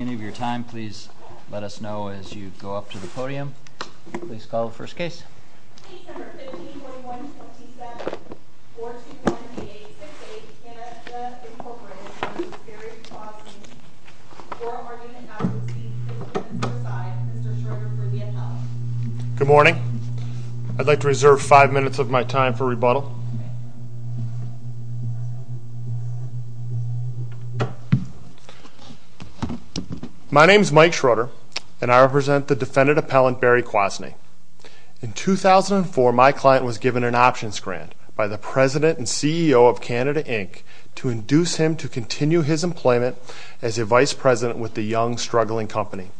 At the beginning of your time, please let us know as you go up to the podium. Please call the first case. Case number 15-21-67-421-8868. Kenneth S. Incorporated v. Barry Kwasny. For argument not to proceed, please stand to your side. Mr. Shorter for the ad hoc. Good morning. I'd like to reserve five minutes of my time for rebuttal. My name is Mike Shorter, and I represent the defendant appellant, Barry Kwasny. In 2004, my client was given an options grant by the president and CEO of Canada, Inc. to induce him to continue his employment as a vice president with the young, struggling company.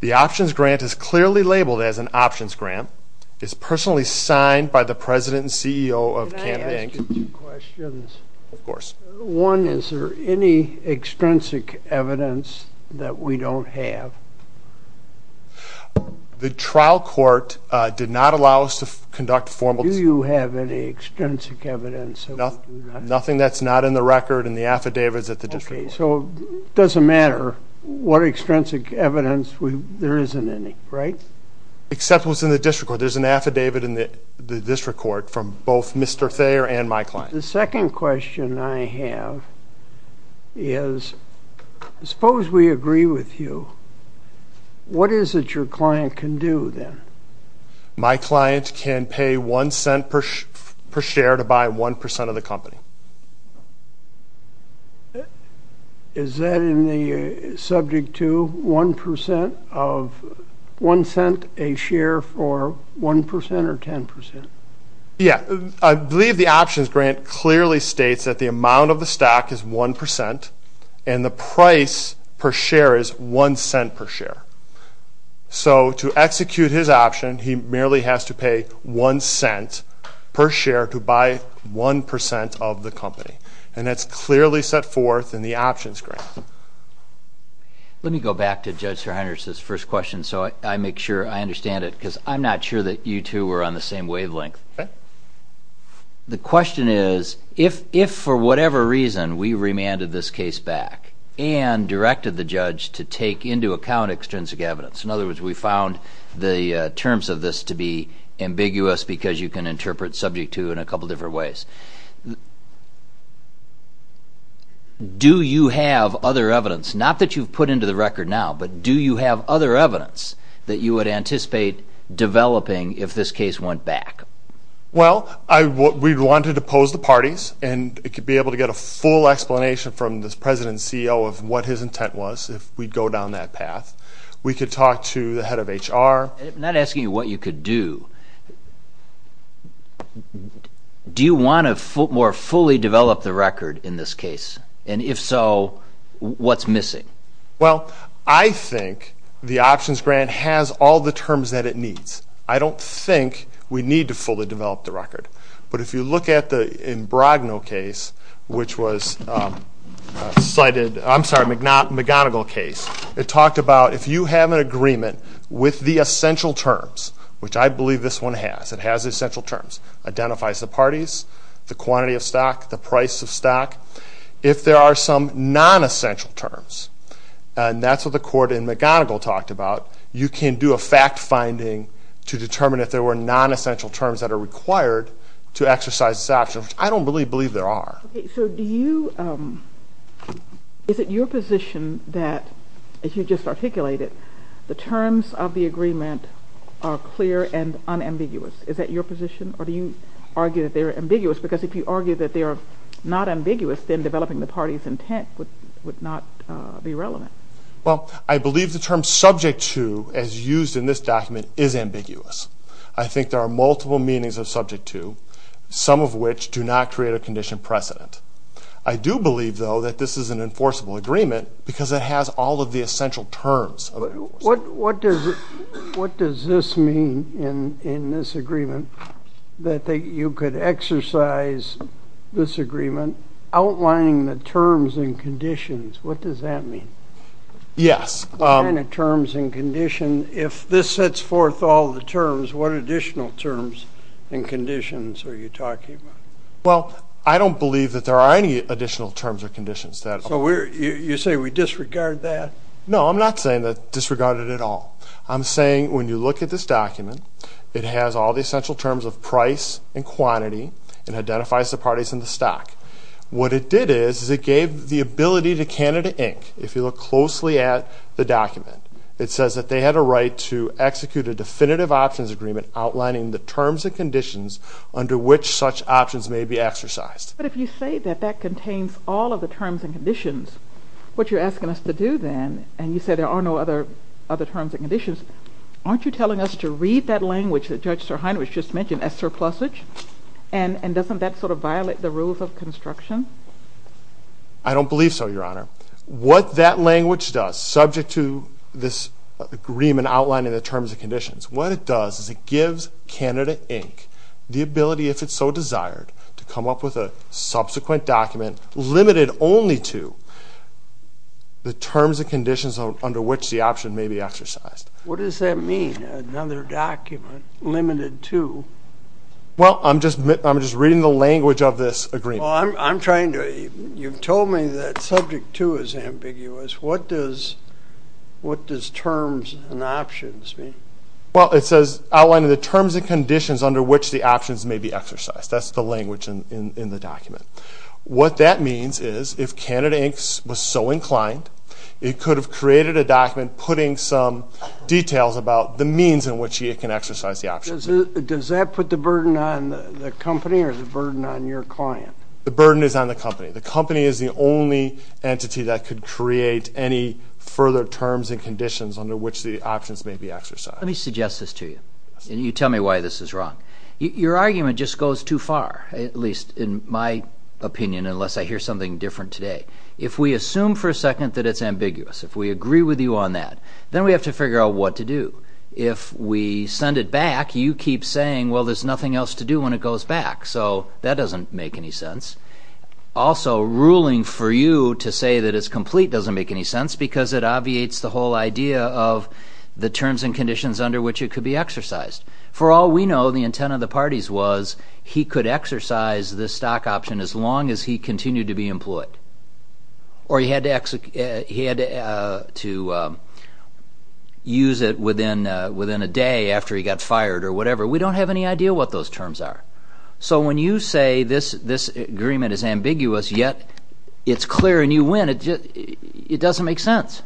The options grant is clearly labeled as an options grant. It's personally signed by the president and CEO of Canada, Inc. I have two questions. One, is there any extrinsic evidence that we don't have? The trial court did not allow us to conduct formal... Do you have any extrinsic evidence? Nothing that's not in the record and the affidavit is at the district court. Okay, so it doesn't matter what extrinsic evidence. There isn't any, right? Except what's in the district court. There's an affidavit in the district court from both Mr. Thayer and my client. The second question I have is, suppose we agree with you. What is it your client can do, then? My client can pay one cent per share to buy one percent of the company. Is that subject to one cent a share for one percent or ten percent? Yeah, I believe the options grant clearly states that the amount of the stock is one percent and the price per share is one cent per share. So, to execute his option, he merely has to pay one cent per share to buy one percent of the company. And that's clearly set forth in the options grant. Let me go back to Judge SirHunters' first question so I make sure I understand it because I'm not sure that you two were on the same wavelength. Okay. The question is, if for whatever reason we remanded this case back and directed the judge to take into account extrinsic evidence. In other words, we found the terms of this to be ambiguous because you can interpret subject to in a couple different ways. Do you have other evidence, not that you've put into the record now, but do you have other evidence that you would anticipate developing if this case went back? Well, we'd want to depose the parties and it could be able to get a full explanation from the president and CEO of what his intent was if we go down that path. We could talk to the head of HR. I'm not asking you what you could do. Do you want to more fully develop the record in this case? And if so, what's missing? Well, I think the options grant has all the terms that it needs. I don't think we need to fully develop the record. But if you look at the Imbrogno case, which was a McGonigal case, it talked about if you have an agreement with the essential terms, which I believe this one has, it has essential terms, identifies the parties, the quantity of stock, the price of stock. If there are some nonessential terms, and that's what the court in McGonigal talked about, you can do a fact finding to determine if there were nonessential terms that are required to exercise this option, which I don't really believe there are. Okay, so do you – is it your position that, as you just articulated, the terms of the agreement are clear and unambiguous? Is that your position, or do you argue that they're ambiguous? Because if you argue that they're not ambiguous, then developing the party's intent would not be relevant. Well, I believe the term subject to, as used in this document, is ambiguous. I think there are multiple meanings of subject to, some of which do not create a condition precedent. I do believe, though, that this is an enforceable agreement because it has all of the essential terms. What does this mean in this agreement, that you could exercise this agreement outlining the terms and conditions? What does that mean? Yes. Outlining terms and conditions. If this sets forth all the terms, what additional terms and conditions are you talking about? Well, I don't believe that there are any additional terms or conditions. So you say we disregard that? No, I'm not saying that disregarded at all. I'm saying when you look at this document, it has all the essential terms of price and quantity and identifies the parties in the stock. What it did is it gave the ability to Canada, Inc., if you look closely at the document, it says that they had a right to execute a definitive options agreement outlining the terms and conditions under which such options may be exercised. But if you say that that contains all of the terms and conditions, what you're asking us to do then, and you say there are no other terms and conditions, aren't you telling us to read that language that Judge SirHeinrich just mentioned as surplusage? And doesn't that sort of violate the rules of construction? I don't believe so, Your Honor. What that language does, subject to this agreement outlining the terms and conditions, what it does is it gives Canada, Inc., the ability if it so desired to come up with a subsequent document limited only to the terms and conditions under which the option may be exercised. What does that mean, another document limited to? Well, I'm just reading the language of this agreement. Well, I'm trying to. You've told me that subject to is ambiguous. What does terms and options mean? Well, it says outlining the terms and conditions under which the options may be exercised. That's the language in the document. What that means is if Canada, Inc. was so inclined, it could have created a document putting some details about the means in which it can exercise the option. Does that put the burden on the company or the burden on your client? The burden is on the company. The company is the only entity that could create any further terms and conditions under which the options may be exercised. Let me suggest this to you, and you tell me why this is wrong. Your argument just goes too far, at least in my opinion, unless I hear something different today. If we assume for a second that it's ambiguous, if we agree with you on that, then we have to figure out what to do. If we send it back, you keep saying, well, there's nothing else to do when it goes back, so that doesn't make any sense. Also, ruling for you to say that it's complete doesn't make any sense because it obviates the whole idea of the terms and conditions under which it could be exercised. For all we know, the intent of the parties was he could exercise this stock option as long as he continued to be employed or he had to use it within a day after he got fired or whatever. We don't have any idea what those terms are. So when you say this agreement is ambiguous, yet it's clear and you win, it doesn't make sense.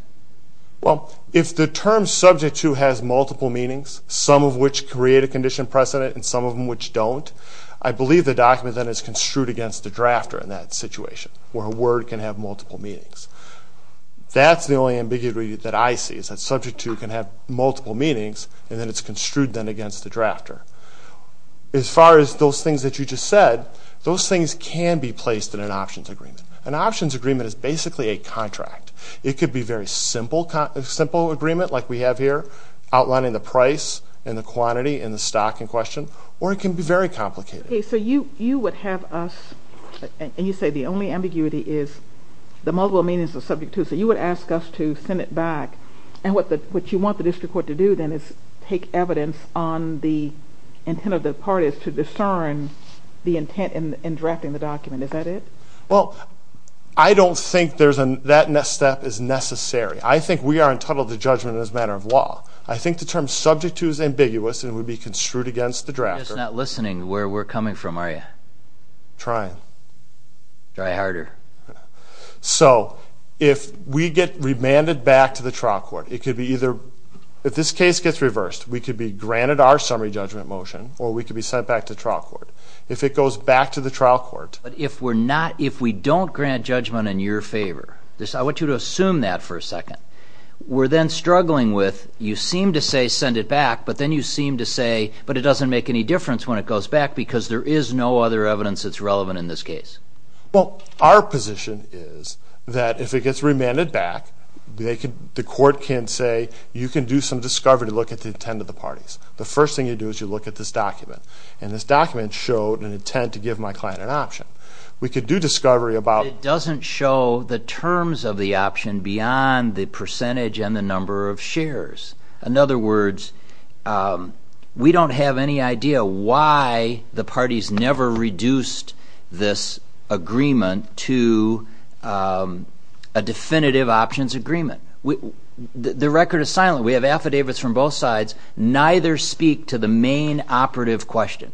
Well, if the term subject to has multiple meanings, some of which create a condition precedent and some of them which don't, I believe the document then is construed against the drafter in that situation where a word can have multiple meanings. That's the only ambiguity that I see, is that subject to can have multiple meanings and then it's construed then against the drafter. As far as those things that you just said, those things can be placed in an options agreement. An options agreement is basically a contract. It could be a very simple agreement like we have here, outlining the price and the quantity and the stock in question, or it can be very complicated. Okay, so you would have us, and you say the only ambiguity is the multiple meanings of subject to, so you would ask us to send it back, and what you want the district court to do then is take evidence on the intent of the parties to discern the intent in drafting the document. Is that it? Well, I don't think that step is necessary. I think we are entitled to judgment as a matter of law. I think the term subject to is ambiguous and would be construed against the drafter. You're just not listening to where we're coming from, are you? Trying. Try harder. So if we get remanded back to the trial court, it could be either if this case gets reversed, we could be granted our summary judgment motion or we could be sent back to trial court. If it goes back to the trial court. But if we don't grant judgment in your favor, I want you to assume that for a second. We're then struggling with you seem to say send it back, but then you seem to say, but it doesn't make any difference when it goes back because there is no other evidence that's relevant in this case. Well, our position is that if it gets remanded back, the court can say, you can do some discovery to look at the intent of the parties. The first thing you do is you look at this document, and this document showed an intent to give my client an option. We could do discovery about... It doesn't show the terms of the option beyond the percentage and the number of shares. In other words, we don't have any idea why the parties never reduced this agreement to a definitive options agreement. The record is silent. We have affidavits from both sides. Neither speak to the main operative question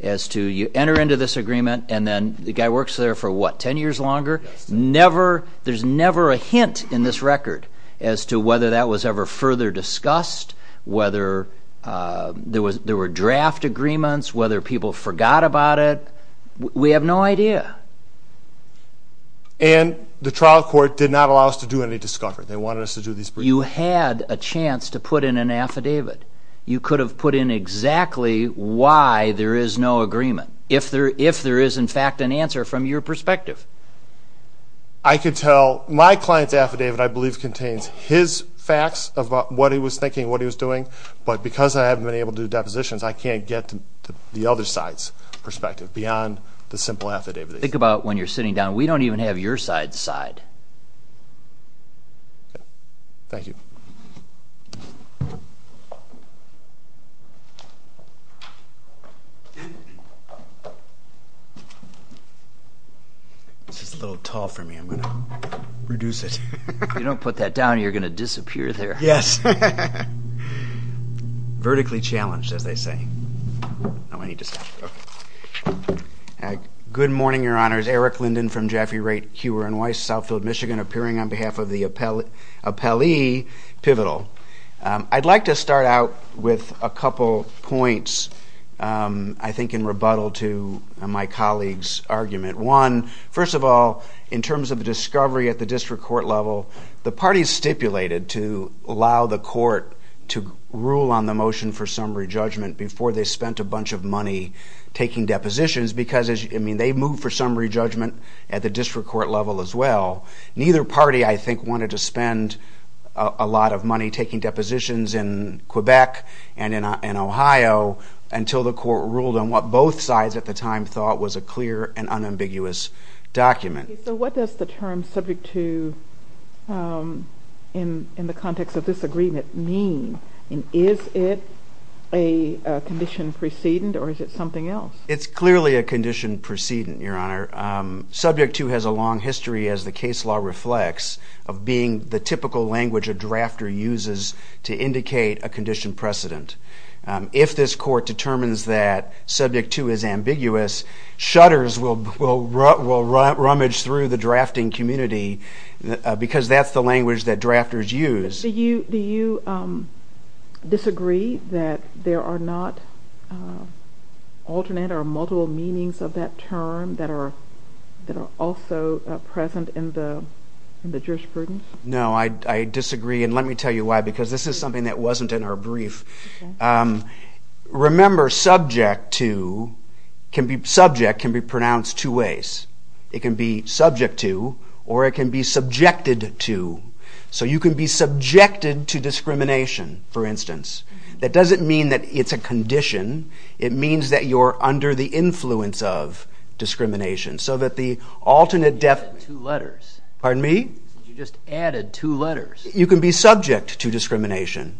as to you enter into this agreement, and then the guy works there for, what, 10 years longer? There's never a hint in this record as to whether that was ever further discussed, whether there were draft agreements, whether people forgot about it. We have no idea. And the trial court did not allow us to do any discovery. They wanted us to do these briefings. You had a chance to put in an affidavit. You could have put in exactly why there is no agreement. If there is, in fact, an answer from your perspective. I could tell my client's affidavit, I believe, contains his facts about what he was thinking, what he was doing. But because I haven't been able to do depositions, I can't get to the other side's perspective beyond the simple affidavit. Think about when you're sitting down. We don't even have your side's side. Thank you. This is a little tall for me. I'm going to reduce it. If you don't put that down, you're going to disappear there. Yes. Vertically challenged, as they say. Oh, I need to stop. Good morning, Your Honors. Eric Linden from Jaffee, Raitt, Hewer & Weiss, Southfield, Michigan, appearing on behalf of the Appellee Pivotal. I'd like to start out with a couple points, I think in rebuttal to my colleague's argument. One, first of all, in terms of discovery at the district court level, the parties stipulated to allow the court to rule on the motion for summary judgment before they spent a bunch of money taking depositions because they moved for summary judgment at the district court level as well. Neither party, I think, wanted to spend a lot of money taking depositions in Quebec and in Ohio until the court ruled on what both sides at the time thought was a clear and unambiguous document. So what does the term Subject to in the context of this agreement mean? And is it a condition precedent or is it something else? It's clearly a condition precedent, Your Honor. Subject to has a long history, as the case law reflects, of being the typical language a drafter uses to indicate a condition precedent. If this court determines that Subject to is ambiguous, shudders will rummage through the drafting community because that's the language that drafters use. Do you disagree that there are not alternate or multiple meanings of that term that are also present in the jurisprudence? No, I disagree, and let me tell you why, because this is something that wasn't in our brief. Remember, Subject to can be pronounced two ways. It can be subject to or it can be subjected to. So you can be subjected to discrimination, for instance. That doesn't mean that it's a condition. It means that you're under the influence of discrimination, so that the alternate definition... You just added two letters. Pardon me? You just added two letters. You can be subject to discrimination.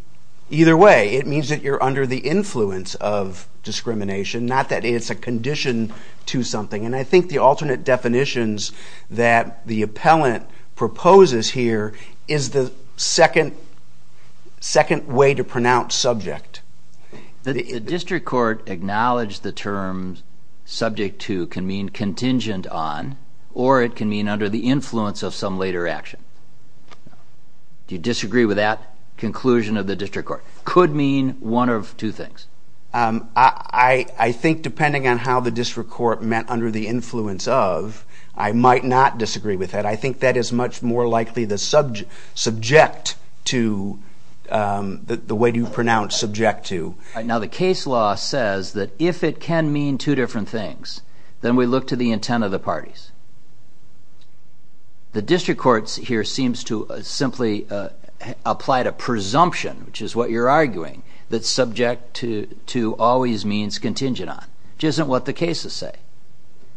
Either way, it means that you're under the influence of discrimination, not that it's a condition to something, and I think the alternate definitions that the appellant proposes here is the second way to pronounce subject. The district court acknowledged the term Subject to can mean contingent on or it can mean under the influence of some later action. Do you disagree with that conclusion of the district court? Could mean one of two things. I think depending on how the district court meant under the influence of, I might not disagree with that. I think that is much more likely the subject to, the way you pronounce subject to. Now, the case law says that if it can mean two different things, then we look to the intent of the parties. The district court here seems to simply apply to presumption, which is what you're arguing, that subject to always means contingent on, which isn't what the cases say.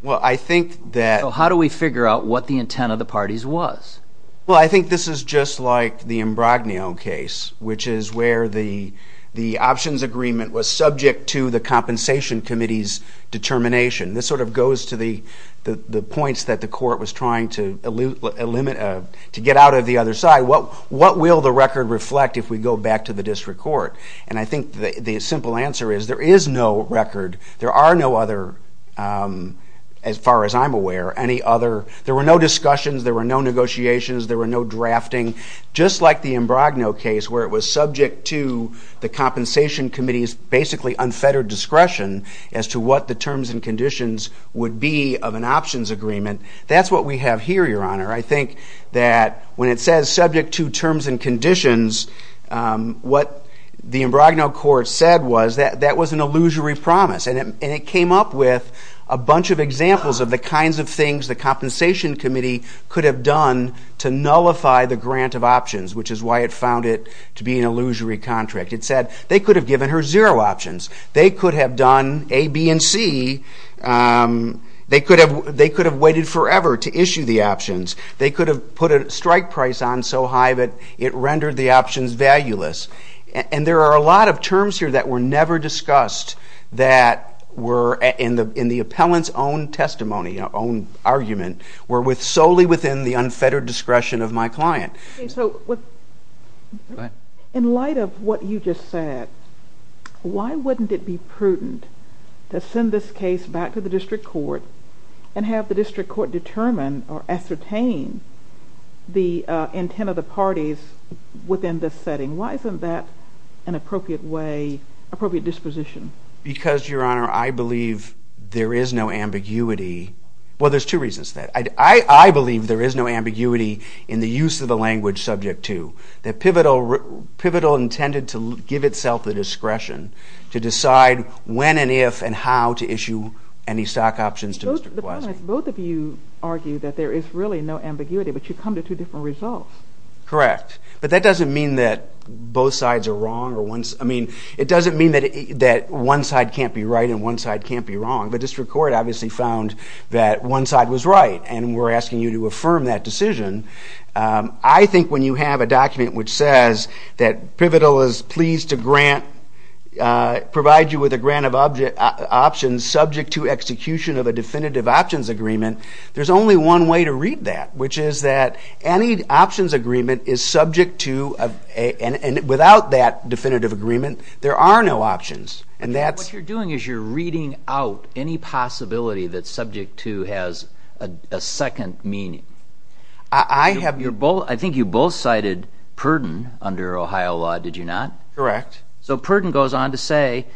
Well, I think that... So how do we figure out what the intent of the parties was? Well, I think this is just like the Imbrogno case, which is where the options agreement was subject to the compensation committee's determination. This sort of goes to the points that the court was trying to get out of the other side. What will the record reflect if we go back to the district court? And I think the simple answer is there is no record. There are no other, as far as I'm aware, any other... There were no discussions, there were no negotiations, there were no drafting. Just like the Imbrogno case, where it was subject to the compensation committee's basically unfettered discretion as to what the terms and conditions would be of an options agreement, that's what we have here, Your Honor. I think that when it says subject to terms and conditions, what the Imbrogno court said was that that was an illusory promise, and it came up with a bunch of examples of the kinds of things the compensation committee could have done to nullify the grant of options, which is why it found it to be an illusory contract. It said they could have given her zero options. They could have done A, B, and C. They could have waited forever to issue the options. They could have put a strike price on so high that it rendered the options valueless. And there are a lot of terms here that were never discussed that were in the appellant's own testimony, own argument, were solely within the unfettered discretion of my client. Okay, so in light of what you just said, why wouldn't it be prudent to send this case back to the district court and have the district court determine or ascertain the intent of the parties within this setting? Why isn't that an appropriate disposition? Because, Your Honor, I believe there is no ambiguity. Well, there's two reasons for that. I believe there is no ambiguity in the use of the language subject to. Pivotal intended to give itself the discretion to decide when and if and how to issue any stock options to Mr. Kwasi. Both of you argue that there is really no ambiguity, but you come to two different results. Correct, but that doesn't mean that both sides are wrong. I mean, it doesn't mean that one side can't be right and one side can't be wrong, but the District Court obviously found that one side was right and we're asking you to affirm that decision. I think when you have a document which says that Pivotal is pleased to grant, provide you with a grant of options subject to execution of a definitive options agreement, there's only one way to read that, which is that any options agreement is subject to and without that definitive agreement, there are no options. What you're doing is you're reading out any possibility that subject to has a second meaning. I think you both cited Purden under Ohio law, did you not? Correct. So Purden goes on to say,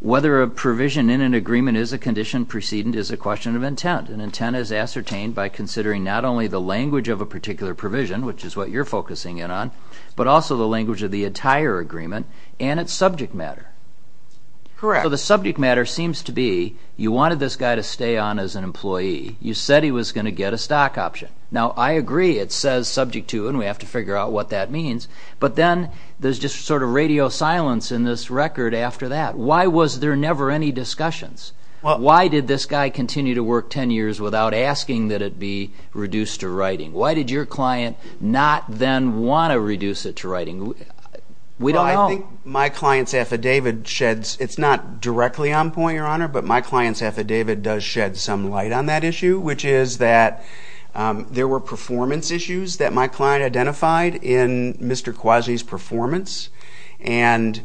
whether a provision in an agreement is a condition precedent is a question of intent. An intent is ascertained by considering not only the language of a particular provision, which is what you're focusing in on, but also the language of the entire agreement and its subject matter. Correct. So the subject matter seems to be, you wanted this guy to stay on as an employee. You said he was going to get a stock option. Now, I agree it says subject to and we have to figure out what that means, but then there's just sort of radio silence in this record after that. Why was there never any discussions? Why did this guy continue to work 10 years Why did your client not then want to reduce it to writing? We don't know. I think my client's affidavit sheds, it's not directly on point, Your Honor, but my client's affidavit does shed some light on that issue, which is that there were performance issues that my client identified in Mr. Kwasi's performance and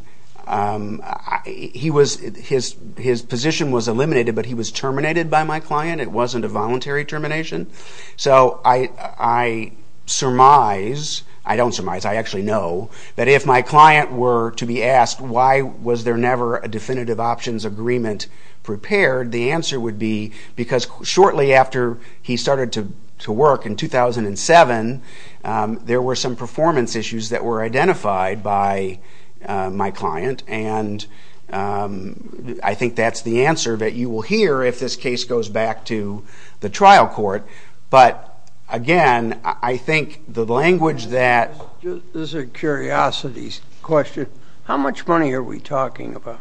his position was eliminated, but he was terminated by my client. It wasn't a voluntary termination. So I surmise, I don't surmise, I actually know, that if my client were to be asked why was there never a definitive options agreement prepared, the answer would be because shortly after he started to work in 2007, there were some performance issues that were identified by my client and I think that's the answer that you will hear if this case goes back to the trial court, but again, I think the language that... This is a curiosity question. How much money are we talking about?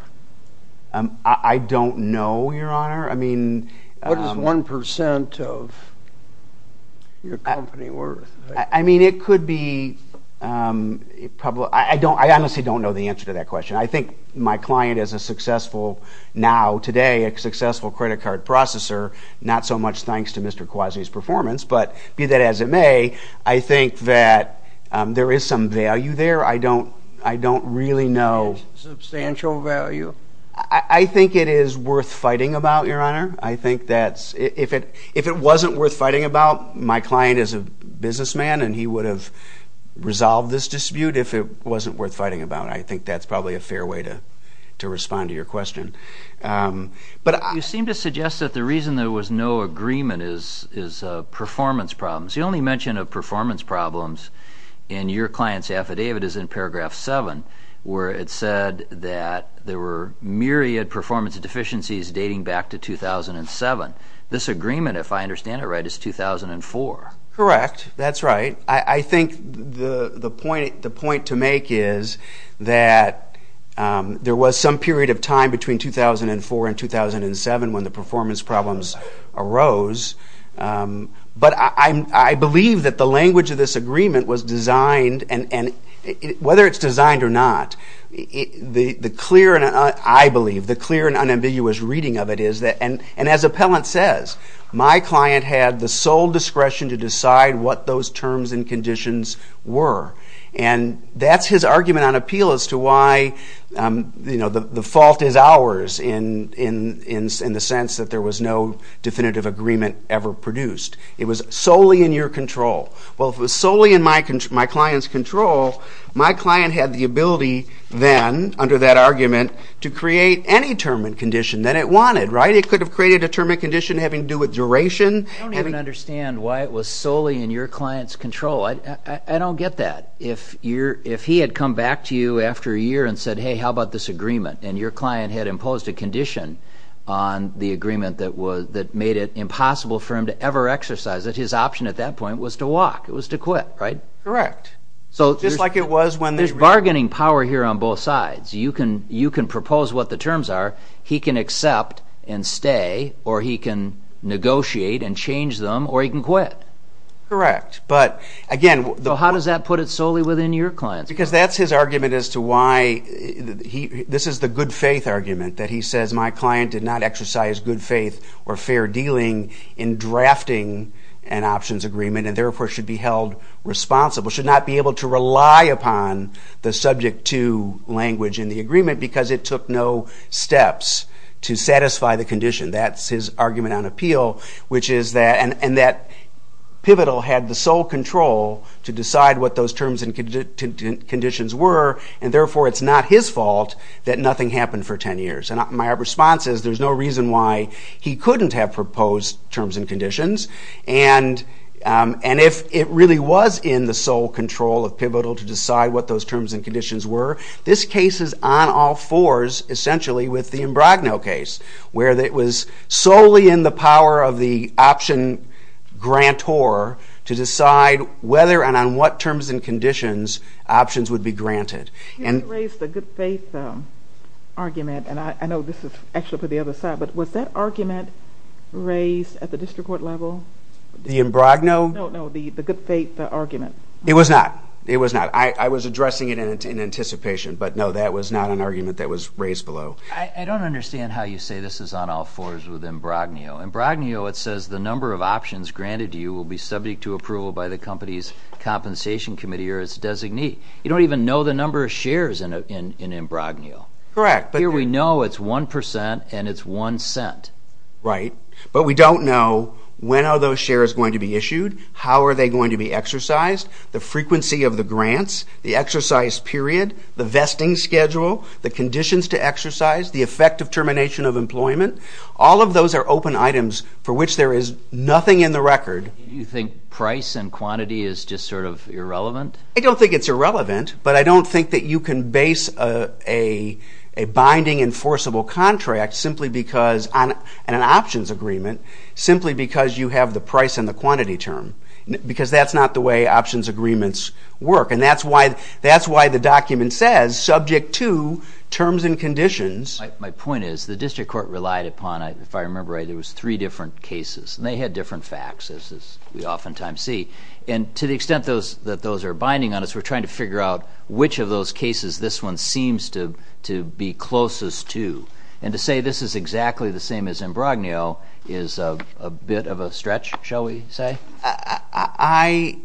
I don't know, Your Honor. What is 1% of your company worth? I mean, it could be... I honestly don't know the answer to that question. I think my client is a successful, now, today, a successful credit card processor, not so much thanks to Mr. Quasi's performance, but be that as it may, I think that there is some value there. I don't really know... Substantial value? I think it is worth fighting about, Your Honor. I think that if it wasn't worth fighting about, my client is a businessman and he would have resolved this dispute if it wasn't worth fighting about. I think that's probably a fair way to respond to your question. You seem to suggest that the reason there was no agreement is performance problems. The only mention of performance problems in your client's affidavit is in paragraph 7, where it said that there were myriad performance deficiencies dating back to 2007. This agreement, if I understand it right, is 2004. Correct. That's right. I think the point to make is that there was some period of time between 2004 and 2007 when the performance problems arose, but I believe that the language of this agreement was designed, and whether it's designed or not, the clear, I believe, the clear and unambiguous reading of it is that, and as Appellant says, my client had the sole discretion to decide what those terms and conditions were. And that's his argument on appeal as to why the fault is ours in the sense that there was no definitive agreement ever produced. It was solely in your control. Well, if it was solely in my client's control, my client had the ability then, under that argument, to create any term and condition that it wanted, right? It could have created a term and condition having to do with duration. I don't even understand why it was solely in your client's control. No, I don't get that. If he had come back to you after a year and said, hey, how about this agreement, and your client had imposed a condition on the agreement that made it impossible for him to ever exercise it, his option at that point was to walk. It was to quit, right? Correct. Just like it was when they... There's bargaining power here on both sides. You can propose what the terms are. He can accept and stay, or he can negotiate and change them, or he can quit. Correct. But, again... So how does that put it solely within your client's control? Because that's his argument as to why... This is the good faith argument, that he says, my client did not exercise good faith or fair dealing in drafting an options agreement and therefore should be held responsible, should not be able to rely upon the subject to language in the agreement because it took no steps to satisfy the condition. That's his argument on appeal, which is that... Pivotal had the sole control to decide what those terms and conditions were, and therefore it's not his fault that nothing happened for 10 years. And my response is there's no reason why he couldn't have proposed terms and conditions, and if it really was in the sole control of Pivotal to decide what those terms and conditions were, this case is on all fours, essentially, with the Imbrogno case, where it was solely in the power of the option grantor to decide whether and on what terms and conditions options would be granted. You raised the good faith argument, and I know this is actually for the other side, but was that argument raised at the district court level? The Imbrogno? No, no, the good faith argument. It was not. It was not. I was addressing it in anticipation, but no, that was not an argument that was raised below. I don't understand how you say this is on all fours with Imbrogno. Imbrogno, it says the number of options granted to you will be subject to approval by the company's compensation committee or its designee. You don't even know the number of shares in Imbrogno. Correct. Here we know it's 1% and it's 1 cent. Right, but we don't know when are those shares going to be issued, how are they going to be exercised, the frequency of the grants, the exercise period, the vesting schedule, the conditions to exercise, the effect of termination of employment. All of those are open items for which there is nothing in the record. Do you think price and quantity is just sort of irrelevant? I don't think it's irrelevant, but I don't think that you can base a binding enforceable contract simply because... and an options agreement simply because you have the price and the quantity term because that's not the way options agreements work, and that's why the document says, subject to terms and conditions... My point is the district court relied upon, if I remember right, there was three different cases, and they had different facts, as we oftentimes see. And to the extent that those are binding on us, we're trying to figure out which of those cases this one seems to be closest to. And to say this is exactly the same as Imbrogno is a bit of a stretch, shall we say? I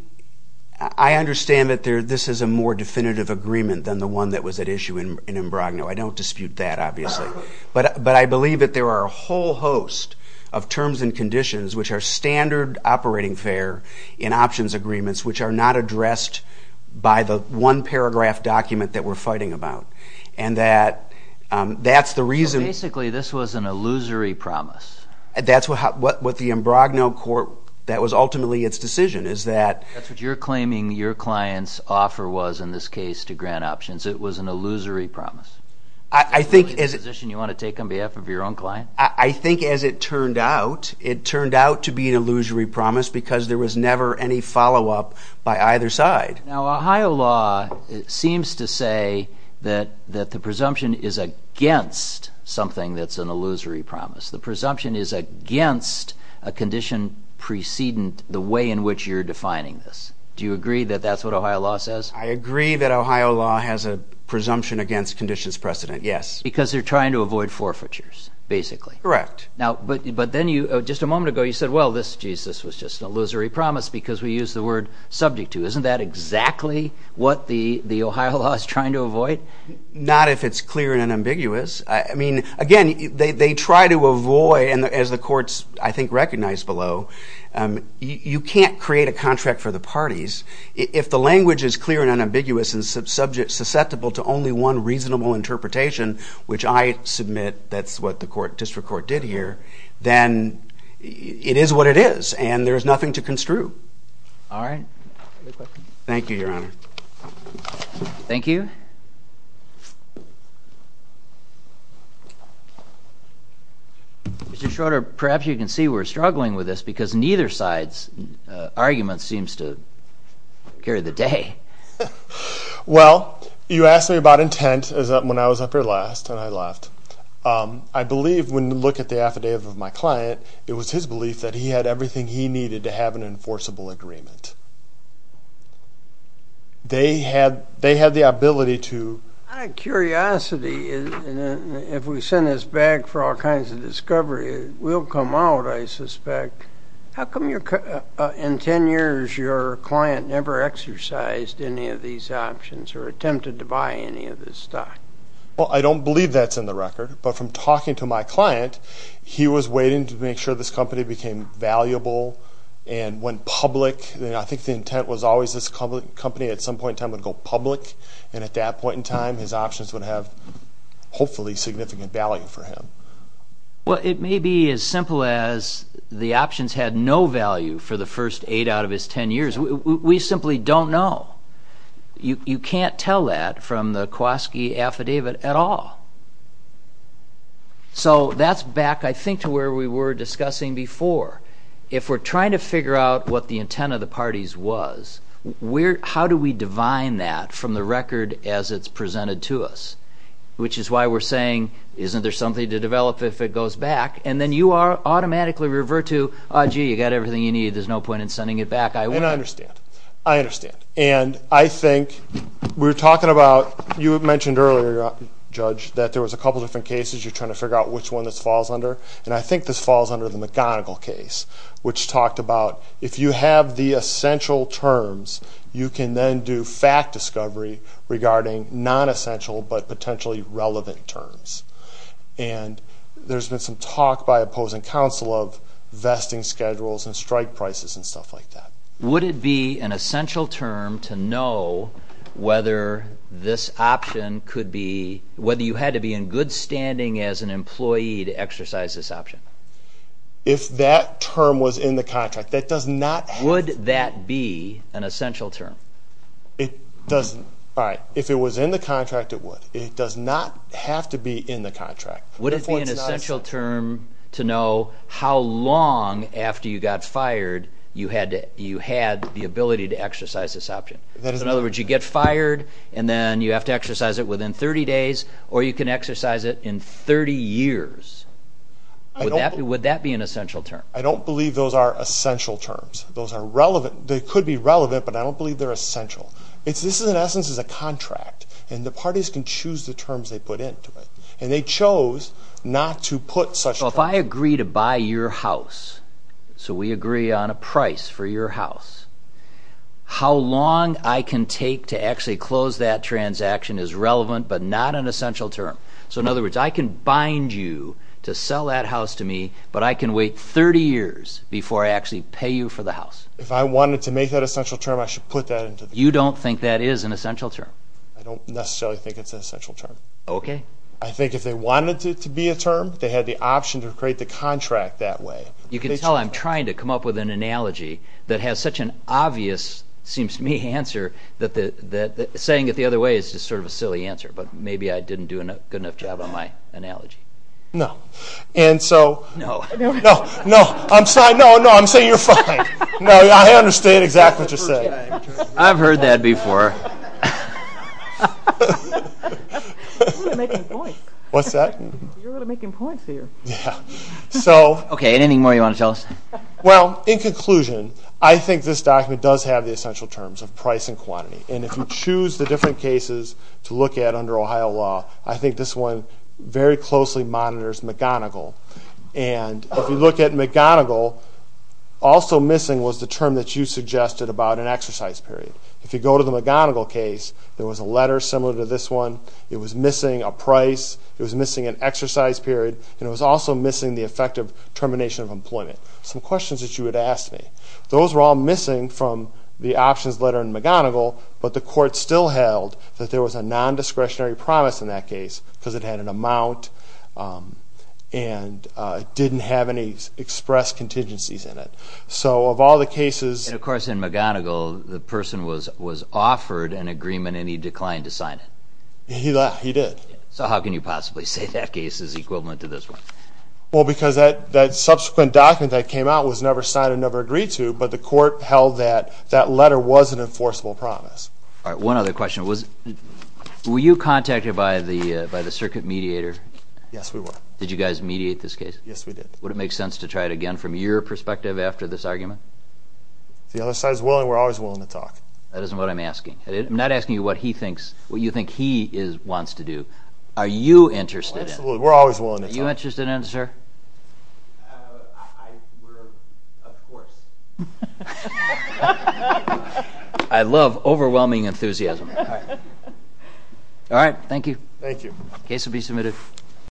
understand that this is a more definitive agreement than the one that was at issue in Imbrogno. I don't dispute that, obviously. But I believe that there are a whole host of terms and conditions, which are standard operating fare in options agreements, which are not addressed by the one-paragraph document that we're fighting about. And that's the reason... So basically this was an illusory promise. That's what the Imbrogno court... That was ultimately its decision, is that... That's what you're claiming your client's offer was, in this case, to grant options. It was an illusory promise. Is that really the position you want to take on behalf of your own client? I think, as it turned out, it turned out to be an illusory promise because there was never any follow-up by either side. Now, Ohio law seems to say that the presumption is against something that's an illusory promise. The presumption is against a condition preceding the way in which you're defining this. Do you agree that that's what Ohio law says? I agree that Ohio law has a presumption against conditions precedent, yes. Because they're trying to avoid forfeitures, basically. Correct. But then, just a moment ago, you said, well, this was just an illusory promise because we used the word subject to. Isn't that exactly what the Ohio law is trying to avoid? Not if it's clear and ambiguous. I mean, again, they try to avoid, and as the courts, I think, recognize below, you can't create a contract for the parties. If the language is clear and unambiguous and susceptible to only one reasonable interpretation, which I submit that's what the district court did here, then it is what it is, and there's nothing to construe. All right. Thank you, Your Honor. Thank you. Mr. Schroeder, perhaps you can see we're struggling with this because neither side's argument seems to carry the day. Well, you asked me about intent when I was up here last, and I left. I believe when you look at the affidavit of my client, it was his belief that he had everything he needed to have an enforceable agreement. They had the ability to... Out of curiosity, if we send this back for all kinds of discovery, it will come out, I suspect. How come in 10 years your client never exercised any of these options or attempted to buy any of this stock? Well, I don't believe that's in the record, but from talking to my client, he was waiting to make sure this company became valuable and went public. I think the intent was always this company at some point in time would go public, and at that point in time his options would have hopefully significant value for him. Well, it may be as simple as the options had no value for the first 8 out of his 10 years. We simply don't know. You can't tell that from the Kwaski affidavit at all. So that's back, I think, to where we were discussing before. If we're trying to figure out what the intent of the parties was, how do we divine that from the record as it's presented to us? Which is why we're saying, isn't there something to develop if it goes back? And then you automatically revert to, gee, you've got everything you need, there's no point in sending it back. And I understand. I understand. And I think we're talking about, you mentioned earlier, Judge, that there was a couple different cases you're trying to figure out which one this falls under, and I think this falls under the McGonigal case, which talked about if you have the essential terms, you can then do fact discovery regarding nonessential but potentially relevant terms. And there's been some talk by opposing counsel of vesting schedules and strike prices and stuff like that. Would it be an essential term to know whether this option could be, whether you had to be in good standing as an employee to exercise this option? If that term was in the contract, that does not have to be. Would that be an essential term? It doesn't. All right. If it was in the contract, it would. It does not have to be in the contract. Would it be an essential term to know how long after you got fired you had the ability to exercise this option? In other words, you get fired, and then you have to exercise it within 30 days, or you can exercise it in 30 years. Would that be an essential term? I don't believe those are essential terms. They could be relevant, but I don't believe they're essential. This, in essence, is a contract, and the parties can choose the terms they put into it. And they chose not to put such terms. So if I agree to buy your house, so we agree on a price for your house, how long I can take to actually close that transaction is relevant but not an essential term. So in other words, I can bind you to sell that house to me, but I can wait 30 years before I actually pay you for the house. If I wanted to make that an essential term, I should put that into the contract. You don't think that is an essential term? I don't necessarily think it's an essential term. Okay. I think if they wanted it to be a term, they had the option to create the contract that way. You can tell I'm trying to come up with an analogy that has such an obvious, seems to me, answer that saying it the other way is just sort of a silly answer, but maybe I didn't do a good enough job on my analogy. No. No. No. I'm sorry. No, no, I'm saying you're fine. No, I understand exactly what you're saying. I've heard that before. You're really making points. What's that? You're really making points here. Yeah. Okay. Anything more you want to tell us? Well, in conclusion, I think this document does have the essential terms of price and quantity. And if you choose the different cases to look at under Ohio law, I think this one very closely monitors McGonigal. And if you look at McGonigal, also missing was the term that you suggested about an exercise period. If you go to the McGonigal case, there was a letter similar to this one. It was missing a price. It was missing an exercise period. And it was also missing the effect of termination of employment. Some questions that you had asked me. Those were all missing from the options letter in McGonigal, but the court still held that there was a non-discretionary promise in that case because it had an amount and didn't have any expressed contingencies in it. So of all the cases... And, of course, in McGonigal, the person was offered an agreement and he declined to sign it. He did. So how can you possibly say that case is equivalent to this one? Well, because that subsequent document that came out was never signed and never agreed to, but the court held that that letter was an enforceable promise. All right. One other question. Were you contacted by the circuit mediator? Yes, we were. Did you guys mediate this case? Yes, we did. Would it make sense to try it again from your perspective after this argument? If the other side is willing, we're always willing to talk. That isn't what I'm asking. I'm not asking you what you think he wants to do. Are you interested in it? Absolutely. We're always willing to talk. Are you interested in it, sir? We're, of course. I love overwhelming enthusiasm. All right. Thank you. Thank you.